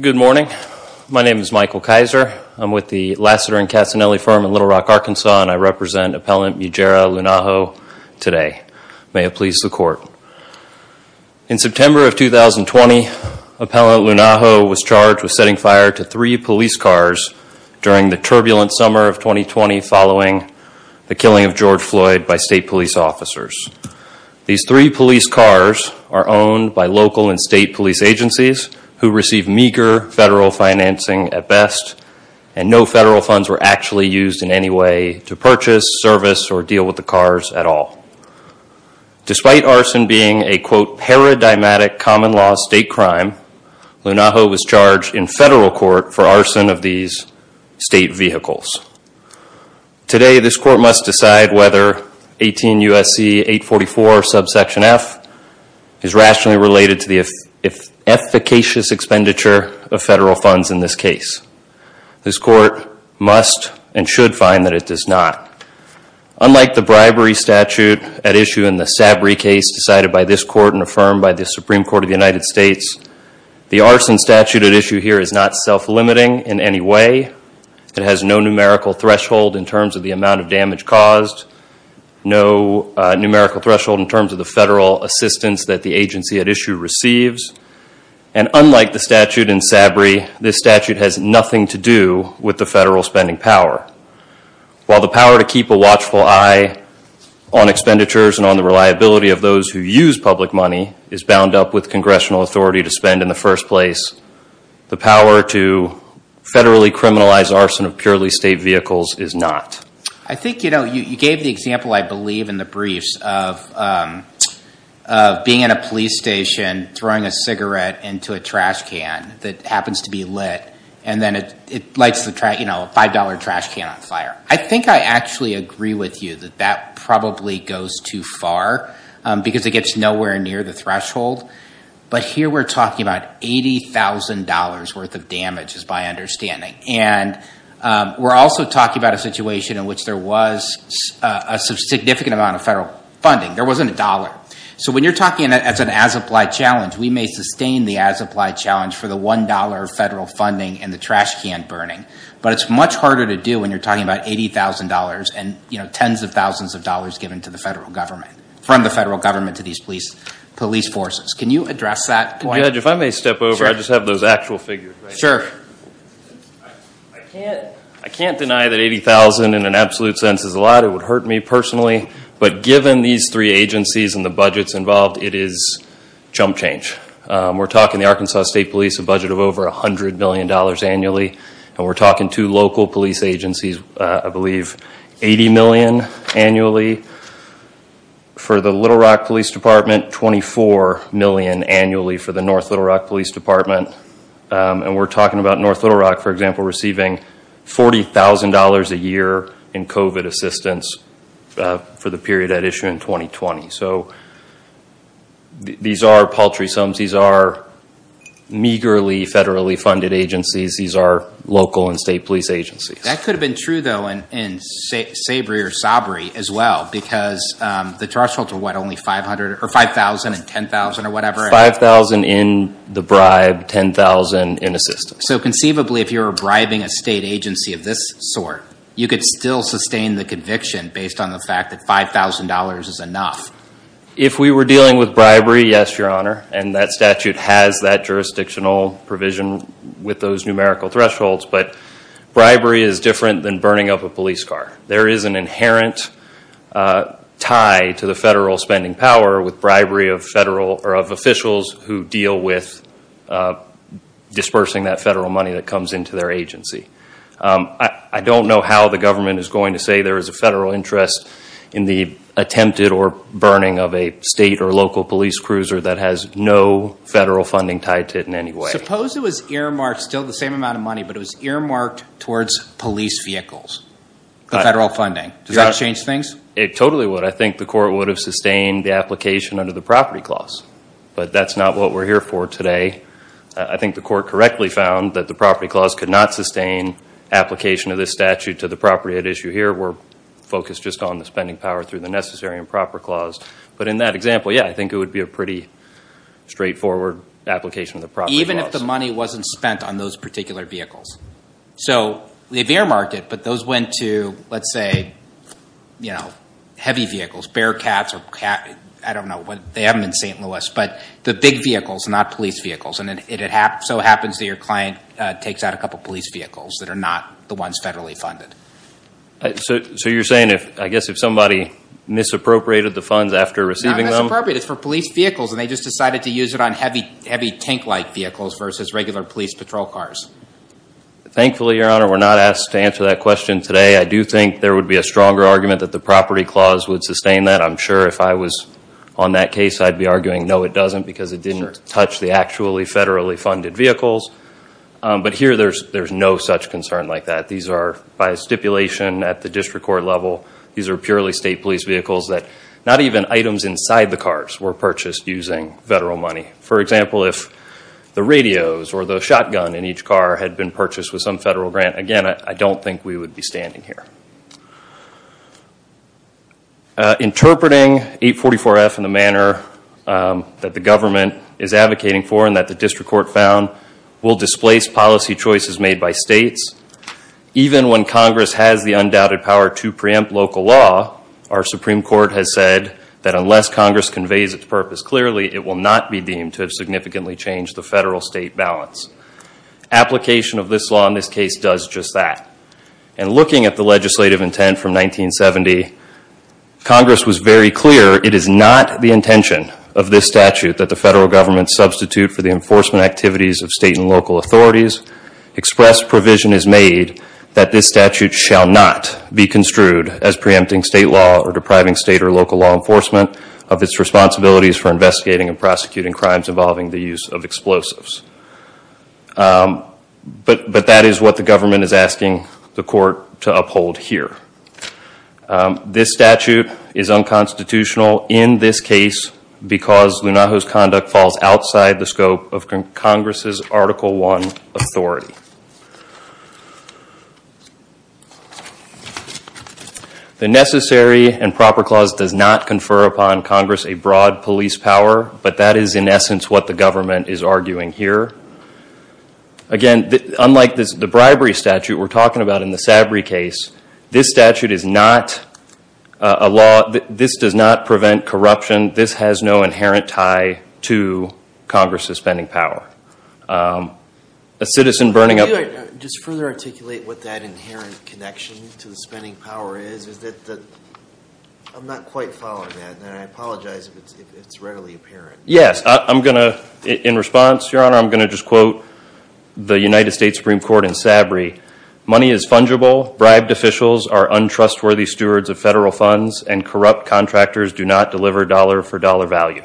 Good morning. My name is Michael Kaiser. I'm with the Lassiter and Cassinelli firm in Little Rock, Arkansas, and I represent Appellant Mujera Lung'aho today. May it please the court. In September of 2020, Appellant Lung'aho was charged with setting fire to three police cars during the turbulent summer of 2020 following the killing of George Floyd by state police officers. These three police cars are owned by local and state police agencies, who receive meager federal financing at best, and no federal funds were actually used in any way to purchase, service, or deal with the cars at all. Despite arson being a quote, paradigmatic common law state crime, Lung'aho was charged in federal court for arson of these state vehicles. Today this court must decide whether 18 U.S.C. 844 subsection F is rationally related to the efficacious expenditure of federal funds in this case. This court must and should find that it does not. Unlike the bribery statute at issue in the Sabry case decided by this court and affirmed by the Supreme Court of the United States, the arson statute at issue here is not self-limiting in any way. It has no numerical threshold in terms of the amount of damage caused, no numerical threshold in terms of the federal assistance that the agency at issue receives, and unlike the statute in Sabry, this statute has nothing to do with the federal spending power. While the power to keep a watchful eye on expenditures and the reliability of those who use public money is bound up with congressional authority to spend in the first place, the power to federally criminalize arson of purely state vehicles is not. I think, you know, you gave the example, I believe, in the briefs of being in a police station, throwing a cigarette into a trash can that happens to be lit, and then it lights the trash, you know, a $5 trash can on fire. I think I actually agree with you that that probably goes too far because it gets nowhere near the threshold, but here we're talking about $80,000 worth of damage is my understanding, and we're also talking about a situation in which there was a significant amount of federal funding. There wasn't a dollar. So when you're talking as an as-applied challenge, we may sustain the as-applied challenge for the $1 federal funding and the trash can burning, but it's much harder to do when you're talking about $80,000 and, you know, tens of thousands of dollars given to the federal government, from the federal government to these police forces. Can you address that point? Judge, if I may step over, I just have those actual figures right here. Sure. I can't deny that $80,000 in an absolute sense is a lot. It would hurt me personally, but given these three agencies and the budgets involved, it is chump change. We're talking the Arkansas State Police, a budget of over $100 million annually, and we're talking two local police agencies, I believe $80 million annually for the Little Rock Police Department, $24 million annually for the North Little Rock Police Department, and we're talking about North Little Rock, for example, receiving $40,000 a year in COVID assistance for the period at issue in 2020. So these are paltry sums. These are meagerly federally funded agencies. These are local and state police agencies. That could have been true, though, in SABRI or SABRI as well, because the thresholds are what, only $5,000 and $10,000 or whatever? $5,000 in the bribe, $10,000 in assistance. So conceivably, if you were bribing a state agency of this sort, you could still sustain the conviction based on the fact that $5,000 is enough. If we were dealing with bribery, yes, Your Honor, and that statute has that jurisdictional provision with those numerical thresholds, but bribery is different than burning up a police car. There is an inherent tie to the federal spending power with bribery of officials who deal with dispersing that federal money that comes into their agency. I don't know how the government is going to say there is a federal interest in the attempted or burning of a state or local police cruiser that has no federal funding tied to it in any way. Suppose it was earmarked, still the same amount of money, but it was earmarked towards police vehicles, the federal funding. Does that change things? It totally would. I think the court would have sustained the application under the property clause, but that's not what we're here for today. I think the court correctly found that the property clause could not sustain application of this statute to the property at issue here. We're focused just on the spending power through the necessary and proper clause. But in that example, yeah, I think it would be a pretty straightforward application of the property clause. But what if the money wasn't spent on those particular vehicles? So they earmarked it, but those went to, let's say, heavy vehicles, Bearcats, I don't know, they have them in St. Louis, but the big vehicles, not police vehicles. And it so happens that your client takes out a couple of police vehicles that are not the ones federally funded. So you're saying, I guess, if somebody misappropriated the funds after receiving them? Not misappropriated. It's for police vehicles, and they just decided to use it on heavy tank-like vehicles versus regular police patrol cars. Thankfully, Your Honor, we're not asked to answer that question today. I do think there would be a stronger argument that the property clause would sustain that. I'm sure if I was on that case, I'd be arguing, no, it doesn't, because it didn't touch the actually federally funded vehicles. But here, there's no such concern like that. These are, by stipulation at the district court level, these are purely state police vehicles that not even items inside the cars were purchased using federal money. For example, if the radios or the shotgun in each car had been purchased with some federal grant, again, I don't think we would be standing here. Interpreting 844F in the manner that the government is advocating for and that the district court found will displace policy choices made by states, even when Congress has the undoubted power to preempt local law, our Supreme Court has said that unless Congress conveys its purpose clearly, it will not be deemed to have significantly changed the federal state balance. Application of this law in this case does just that. And looking at the legislative intent from 1970, Congress was very clear, it is not the intention of this statute that the federal government substitute for the enforcement activities of state and local authorities. Expressed provision is made that this statute shall not be construed as preempting state law or depriving state or local law enforcement of its responsibilities for investigating and prosecuting crimes involving the use of explosives. But that is what the government is asking the court to uphold here. This statute is unconstitutional in this case because Lunajo's conduct falls outside the scope of Congress's Article I authority. The Necessary and Proper Clause does not confer upon Congress a broad police power, but that is in essence what the government is arguing here. Again, unlike the bribery statute we are talking about in the Sabry case, this statute is not a law, this does not prevent the use of explosives. In response, I am going to quote the United States Supreme Court in Sabry, money is fungible, bribed officials are untrustworthy stewards of federal funds, and corrupt contractors do not deliver dollar for dollar value.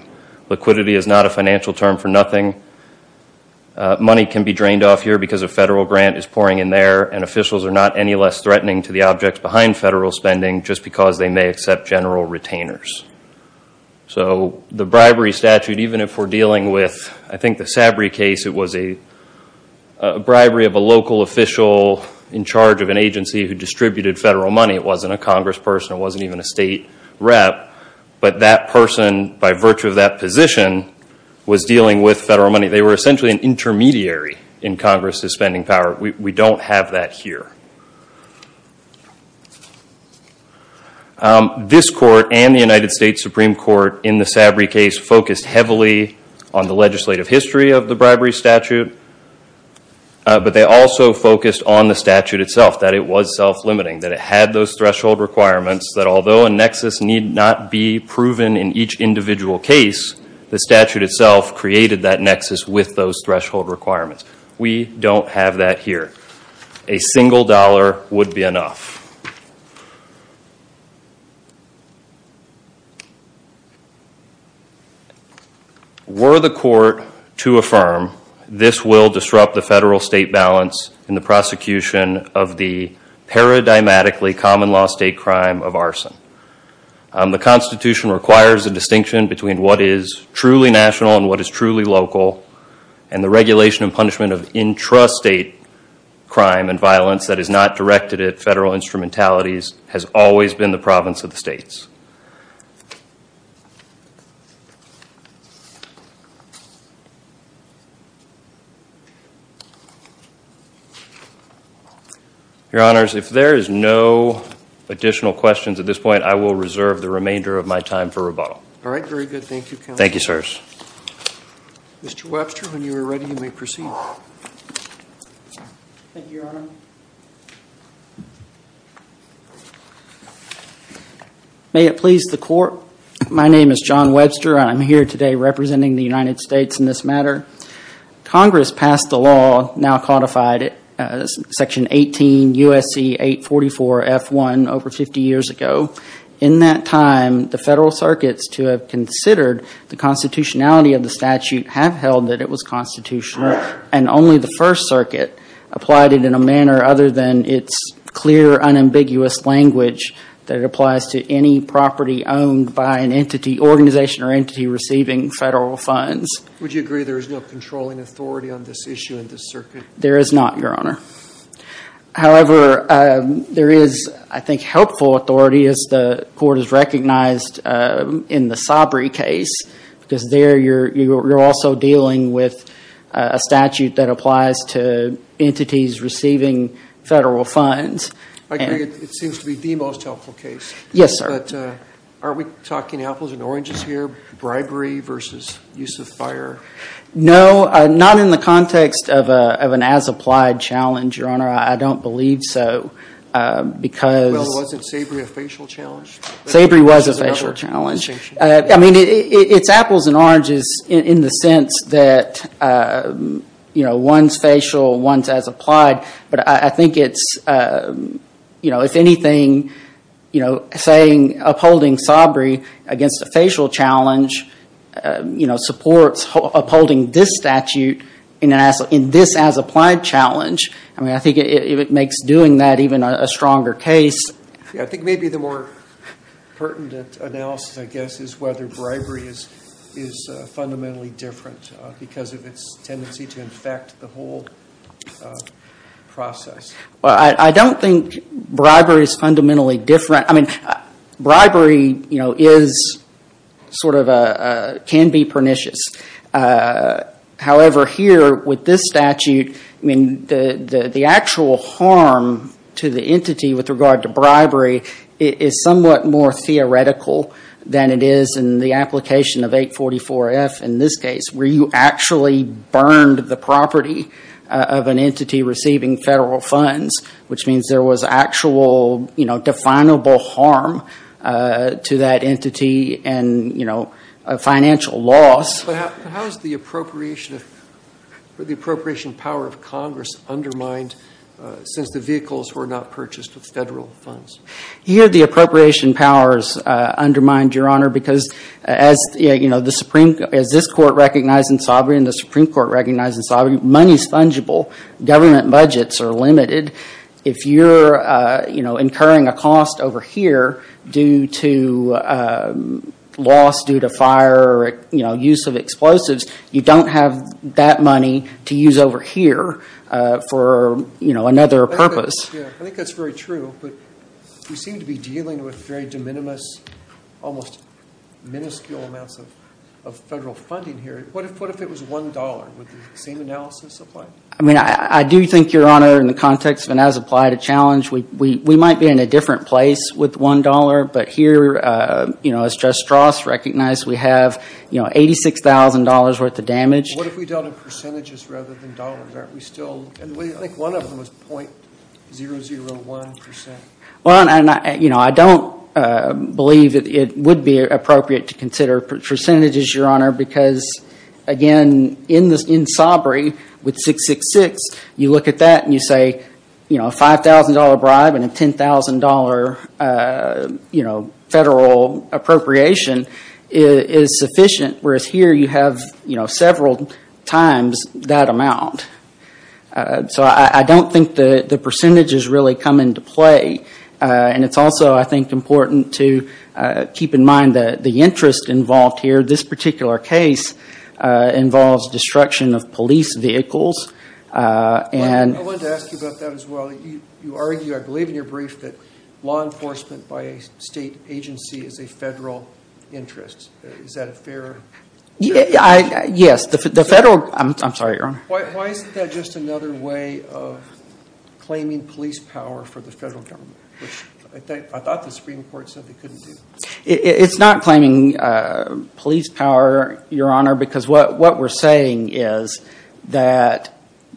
Liquidity is not a financial term for nothing. Money can be drained off here because a federal grant is pouring in there and officials are not any less threatening to the objects behind federal spending just because they may accept general retainers. So the bribery statute, even if we are dealing with the Sabry case, it was a bribery of a local official in charge of an agency who distributed federal money. It wasn't a Congress person, it wasn't even a state rep, but that person by virtue of that position was dealing with federal money. They were essentially an intermediary in Congress's spending power. We don't have that here. This court and the United States Supreme Court in the Sabry case focused heavily on the legislative history of the bribery statute, but they also focused on the statute itself, that it was self-limiting, that it had those threshold requirements that although a nexus need not be proven in each individual case, the statute itself created that nexus with those threshold requirements. We don't have that here. A single dollar would be enough. Were the court to affirm, this will disrupt the federal-state balance in the prosecution of the paradigmatically common-law state crime of arson. The Constitution requires a distinction between what is truly national and what is truly local, and the regulation and punishment of intrastate crime and violence that is not directed at federal instrumentalities has always been the province of the states. Your Honors, if there is no additional questions at this point, I will reserve the remainder of my time for rebuttal. All right. Very good. Thank you, Counselor. Thank you, sirs. Mr. Webster, when you are ready, you may proceed. Thank you, Your Honor. May it please the Court. My name is John Webster, and I'm here today representing the United States Constitutional Court. I'm here to speak on the Federal Circuit's ruling in 18 U.S.C. 844 F.1. over 50 years ago. In that time, the Federal Circuit's to have considered the constitutionality of the statute have held that it was constitutional, and only the First Circuit applied it in a manner other than its clear, unambiguous language that authority on this issue in the circuit. There is not, Your Honor. However, there is, I think, helpful authority, as the Court has recognized in the Sabry case, because there you're also dealing with a statute that applies to entities receiving federal funds. It seems to be the most helpful case. Yes, sir. Aren't we talking apples and oranges here, bribery versus use of fire? No, not in the context of an as-applied challenge, Your Honor. I don't believe so. Well, wasn't Sabry a facial challenge? Sabry was a facial challenge. I mean, it's apples and oranges in the sense that one's facial, one's as-applied. But I think it's, if anything, upholding Sabry against a facial challenge supports upholding this statute in this as-applied challenge. I mean, I think it makes doing that even a stronger case. I think maybe the more pertinent analysis, I guess, is whether bribery is fundamentally different because of its tendency to infect the whole process. Well, I don't think bribery is fundamentally different. I mean, bribery is sort of, can be pernicious. However, here with this statute, I mean, the actual harm to the entity with regard to bribery is somewhat more theoretical than it is in the application of 844F in this case, where you actually burned the property of an entity receiving federal funds, which means there was actual, you know, definable harm to that entity and, you know, financial loss. But how is the appropriation of, the appropriation power of Congress undermined since the vehicles were not purchased with federal funds? Here the appropriation powers undermine, Your Honor, because as, you know, the Supreme, as this Court recognized in Sabry and the Supreme Court recognized in Sabry, money's fungible. Government budgets are limited. If you're, you know, incurring a cost over here due to loss, due to fire, you know, use of explosives, you don't have that money to use over here for, you know, another purpose. I think that's very true, but we seem to be dealing with very de minimis, almost minuscule amounts of federal funding here. What if it was $1? Would the same analysis apply? I mean, I do think, Your Honor, in the context of an as-applied challenge, we might be in a different place with $1. But here, you know, as Judge Strauss recognized, we have, you know, $86,000 worth of damage. What if we dealt in percentages rather than dollars? Aren't we still, I think one of them was .001%. Well, you know, I don't believe it would be appropriate to consider percentages, Your Honor, because, again, in Sobre, with 666, you look at that and you say, you know, a $5,000 bribe and a $10,000, you know, federal appropriation is sufficient, whereas here you have, you know, several times that amount. So I don't think the percentages really come into play. And it's also, I think, important to keep in mind the interest involved here. This particular case involves destruction of police vehicles. I wanted to ask you about that as well. You argue, I believe in your brief, that law enforcement by a state agency is a federal interest. Is that a fair? Yes, the federal, I'm sorry, Your Honor. Why isn't that just another way of claiming police power for the federal government, which I thought the Supreme Court said they couldn't do? It's not claiming police power, Your Honor, because what we're saying is that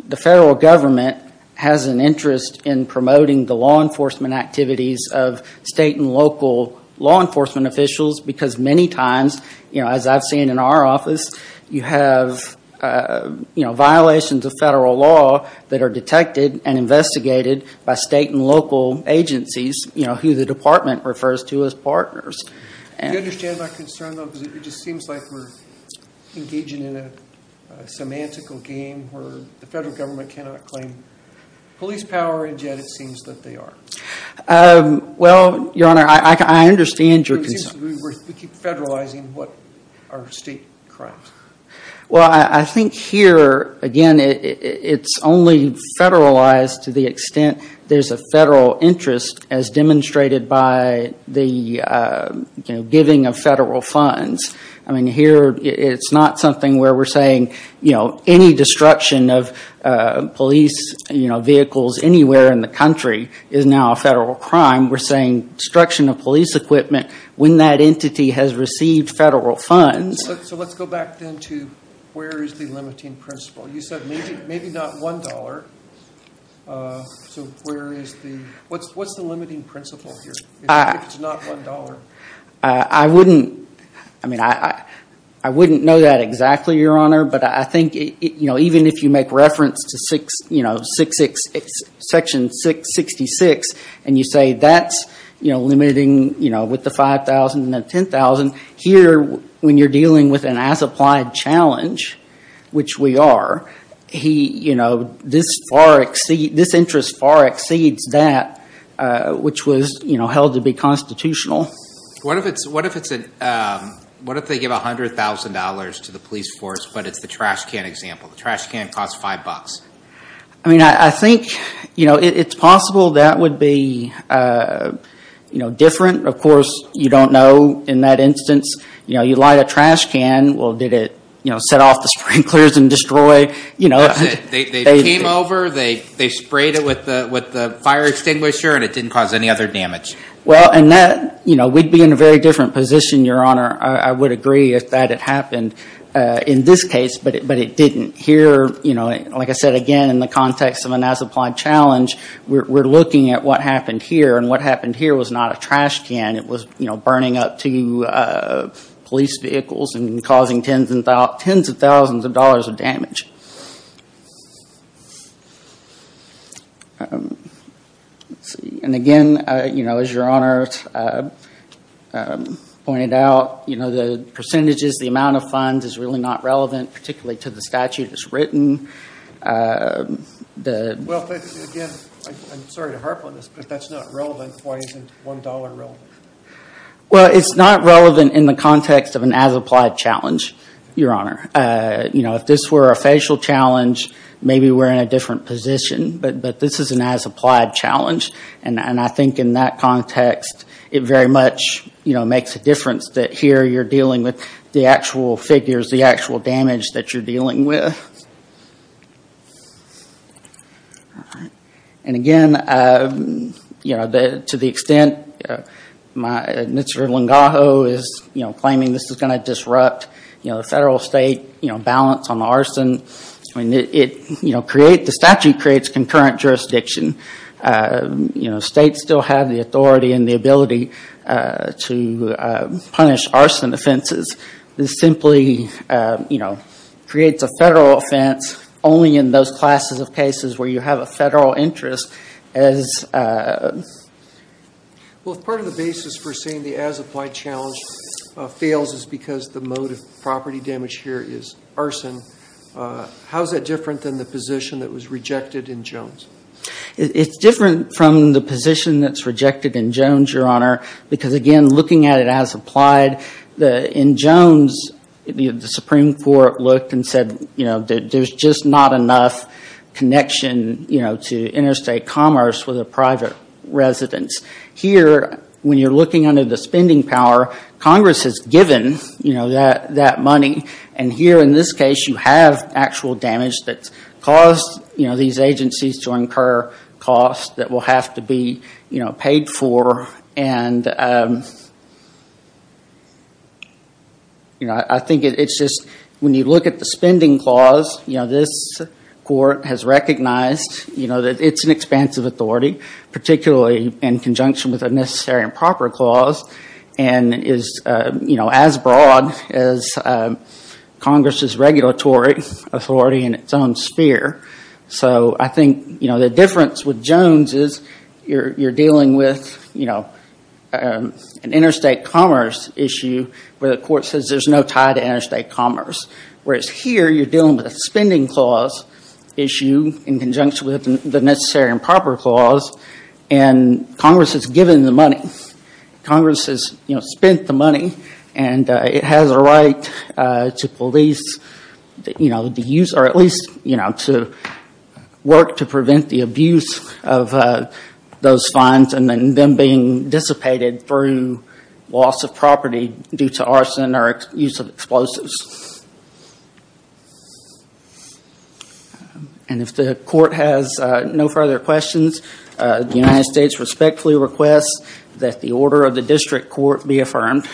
the federal government has an interest in promoting the law enforcement activities of state and local law enforcement officials because many times, you know, as I've seen in our office, you have, you know, violations of federal law that are detected and investigated by state and local agencies, you know, who the department refers to as partners. Do you understand my concern, though? Because it just seems like we're engaging in a semantical game where the federal government cannot claim police power, and yet it seems that they are. Well, Your Honor, I understand your concern. It seems we keep federalizing what are state crimes. Well, I think here, again, it's only federalized to the extent there's a federal interest as demonstrated by the giving of federal funds. I mean, here it's not something where we're saying, you know, any destruction of police vehicles anywhere in the country is now a federal crime. We're saying destruction of police equipment when that entity has received federal funds. So let's go back then to where is the limiting principle. You said maybe not $1. So where is the, what's the limiting principle here if it's not $1? I wouldn't, I mean, I wouldn't know that exactly, Your Honor, but I think, you know, even if you make reference to section 666, and you say that's, you know, limiting, you know, with the $5,000 and the $10,000, here when you're dealing with an as-applied challenge, which we are, he, you know, this far exceeds, this interest far exceeds that, which was, you know, held to be constitutional. What if it's, what if it's, what if they give $100,000 to the police force, but it's the trash can example? The trash can costs $5. I mean, I think, you know, it's possible that would be, you know, different. Of course, you don't know in that instance. You know, you light a trash can, well, did it, you know, set off the sprinklers and destroy, you know. They came over, they sprayed it with the fire extinguisher, and it didn't cause any other damage. Well, and that, you know, we'd be in a very different position, Your Honor. I would agree if that had happened in this case, but it didn't. Here, you know, like I said, again, in the context of an as-applied challenge, we're looking at what happened here, and what happened here was not a trash can. It was, you know, burning up two police vehicles and causing tens of thousands of dollars of damage. And again, you know, as Your Honor pointed out, you know, the percentages, the amount of funds is really not relevant, particularly to the statute that's written. Well, again, I'm sorry to harp on this, but that's not relevant. Why isn't $1 relevant? Well, it's not relevant in the context of an as-applied challenge, Your Honor. You know, if this were a facial challenge, maybe we're in a different position. But this is an as-applied challenge, and I think in that context, it very much, you know, makes a difference that here you're dealing with the actual figures, and here's the actual damage that you're dealing with. And again, you know, to the extent that Mr. Longaho is, you know, claiming this is going to disrupt, you know, the federal-state, you know, balance on the arson, I mean, it, you know, the statute creates concurrent jurisdiction. You know, states still have the authority and the ability to punish arson offenses. This simply, you know, creates a federal offense only in those classes of cases where you have a federal interest as... Well, if part of the basis for saying the as-applied challenge fails is because the mode of property damage here is arson, how is that different than the position that was rejected in Jones? It's different from the position that's rejected in Jones, Your Honor, because again, looking at it as-applied, in Jones, the Supreme Court looked and said, you know, there's just not enough connection, you know, to interstate commerce with a private residence. Here, when you're looking under the spending power, Congress has given, you know, that money, and here in this case, you have actual damage that's caused, you know, for these agencies to incur costs that will have to be, you know, paid for. And, you know, I think it's just when you look at the spending clause, you know, this court has recognized, you know, that it's an expansive authority, particularly in conjunction with a necessary and proper clause, and is, you know, as broad as Congress's regulatory authority in its own sphere. So I think, you know, the difference with Jones is you're dealing with, you know, an interstate commerce issue where the court says there's no tie to interstate commerce, whereas here you're dealing with a spending clause issue in conjunction with the necessary and proper clause, and Congress has given the money. Congress has, you know, spent the money, and it has a right to police, you know, to use or at least, you know, to work to prevent the abuse of those funds and then them being dissipated through loss of property due to arson or use of explosives. And if the court has no further questions, the United States respectfully requests that the order of the district court be affirmed.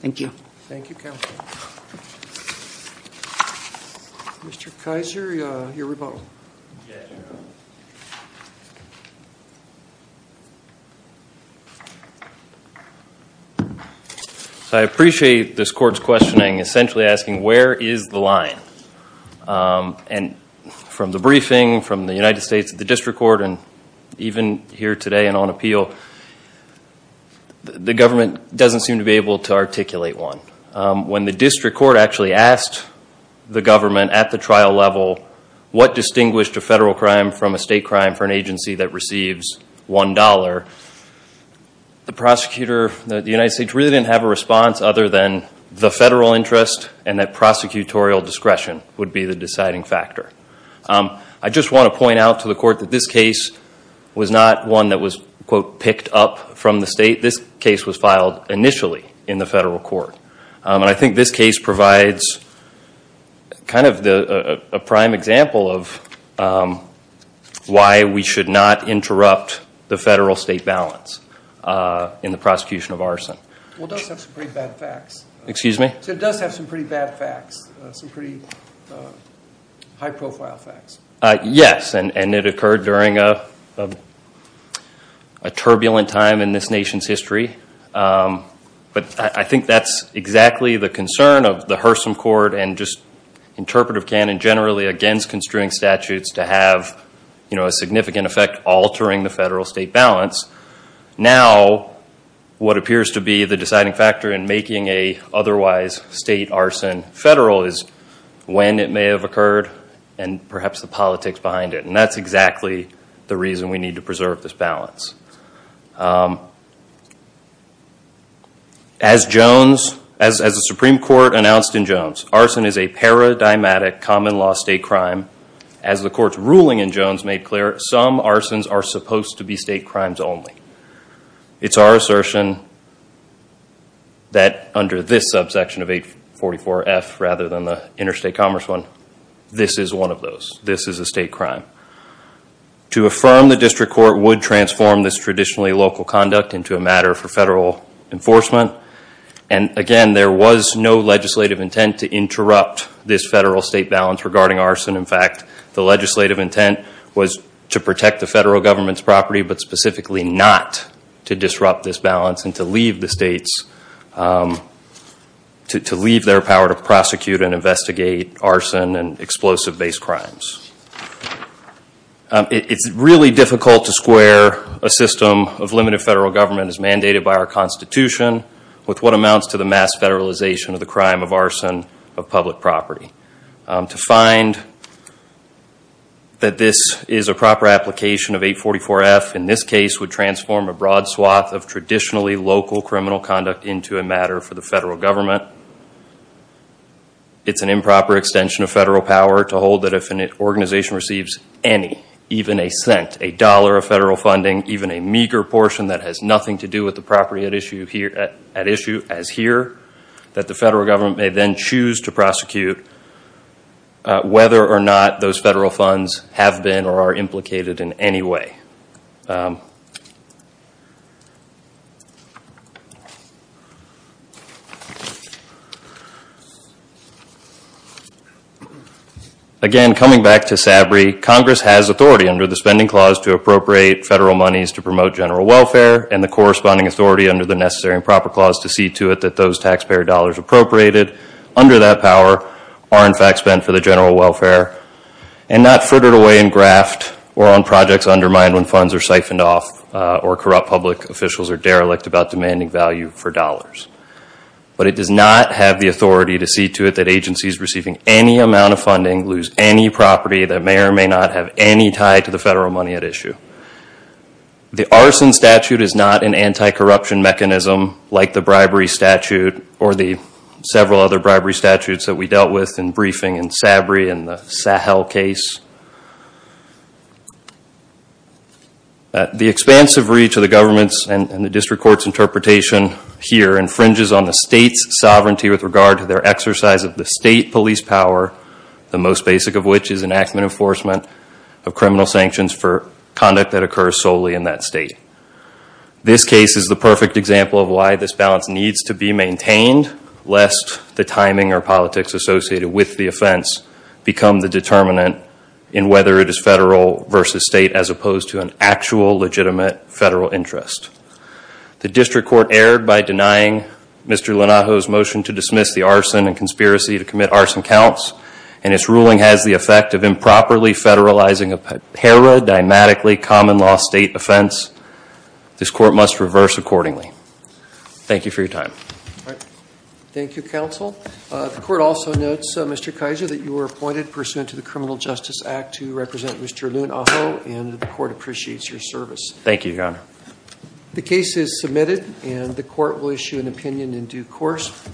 Thank you. Thank you, counsel. Mr. Kaiser, your rebuttal. Yes, Your Honor. So I appreciate this court's questioning essentially asking where is the line. And from the briefing, from the United States District Court, and even here today and on appeal, the government doesn't seem to be able to articulate one. When the district court actually asked the government at the trial level what distinguished a federal crime from a state crime for an agency that receives $1, the prosecutor, the United States really didn't have a response other than the federal interest and that prosecutorial discretion would be the deciding factor. I just want to point out to the court that this case was not one that was, quote, picked up from the state. This case was filed initially in the federal court. And I think this case provides kind of a prime example of why we should not interrupt the federal-state balance in the prosecution of arson. Well, it does have some pretty bad facts. Yes, and it occurred during a turbulent time in this nation's history. But I think that's exactly the concern of the Hurson Court and just interpretive canon generally against construing statutes to have, you know, a significant effect altering the federal-state balance. Now what appears to be the deciding factor in making an otherwise state arson federal is when it may have occurred and perhaps the politics behind it. And that's exactly the reason we need to preserve this balance. As the Supreme Court announced in Jones, arson is a paradigmatic common-law state crime. As the Court's ruling in Jones made clear, some arsons are supposed to be state crimes only. It's our assertion that under this subsection of 844F rather than the interstate commerce one, this is one of those. This is a state crime. To affirm the district court would transform this traditionally local conduct into a matter for federal enforcement. And again, there was no legislative intent to interrupt this federal-state balance regarding arson. In fact, the legislative intent was to protect the federal government's property but specifically not to disrupt this balance and to leave the states, to leave their power to prosecute and investigate arson and explosive-based crimes. It's really difficult to square a system of limited federal government as mandated by our Constitution with what amounts to the mass federalization of the crime of arson of public property. To find that this is a proper application of 844F in this case would transform a broad swath of traditionally local criminal conduct into a matter for the federal government. It's an improper extension of federal power to hold that if an organization receives any, even a cent, a dollar of federal funding, even a meager portion that has nothing to do with the property at issue as here, that the federal government may then choose to prosecute whether or not those federal funds have been or are implicated in any way. Again, coming back to SABRI, Congress has authority under the Spending Clause to appropriate federal monies to promote general welfare and the corresponding authority under the Necessary and Proper Clause to see to it that those taxpayer dollars appropriated under that power are in fact spent for the general welfare and not furthered away in graft or on projects undermined when funds are siphoned off or corrupt public officials are derelict about demanding value for dollars. But it does not have the authority to see to it that agencies receiving any amount of funding lose any property that may or may not have any tie to the federal money at issue. The arson statute is not an anti-corruption mechanism like the bribery statute or the several other bribery statutes that we dealt with in briefing in SABRI and the Sahel case. The expansive reach of the government's and the district court's interpretation here infringes on the state's sovereignty with regard to their exercise of the state police power, the most basic of which is enactment enforcement of criminal sanctions for conduct that occurs solely in that state. This case is the perfect example of why this balance needs to be maintained lest the timing or politics associated with the offense become the determinant in whether it is federal versus state as opposed to an actual legitimate federal interest. The district court erred by denying Mr. Lenato's motion to dismiss the arson and conspiracy to commit arson counts and its ruling has the effect of improperly federalizing a paradigmatically common law state offense. This court must reverse accordingly. Thank you for your time. Thank you, counsel. The court also notes, Mr. Kaiser, that you were appointed pursuant to the Criminal Justice Act to represent Mr. Lunaho and the court appreciates your service. Thank you, your honor. The case is submitted and the court will issue an opinion in due course.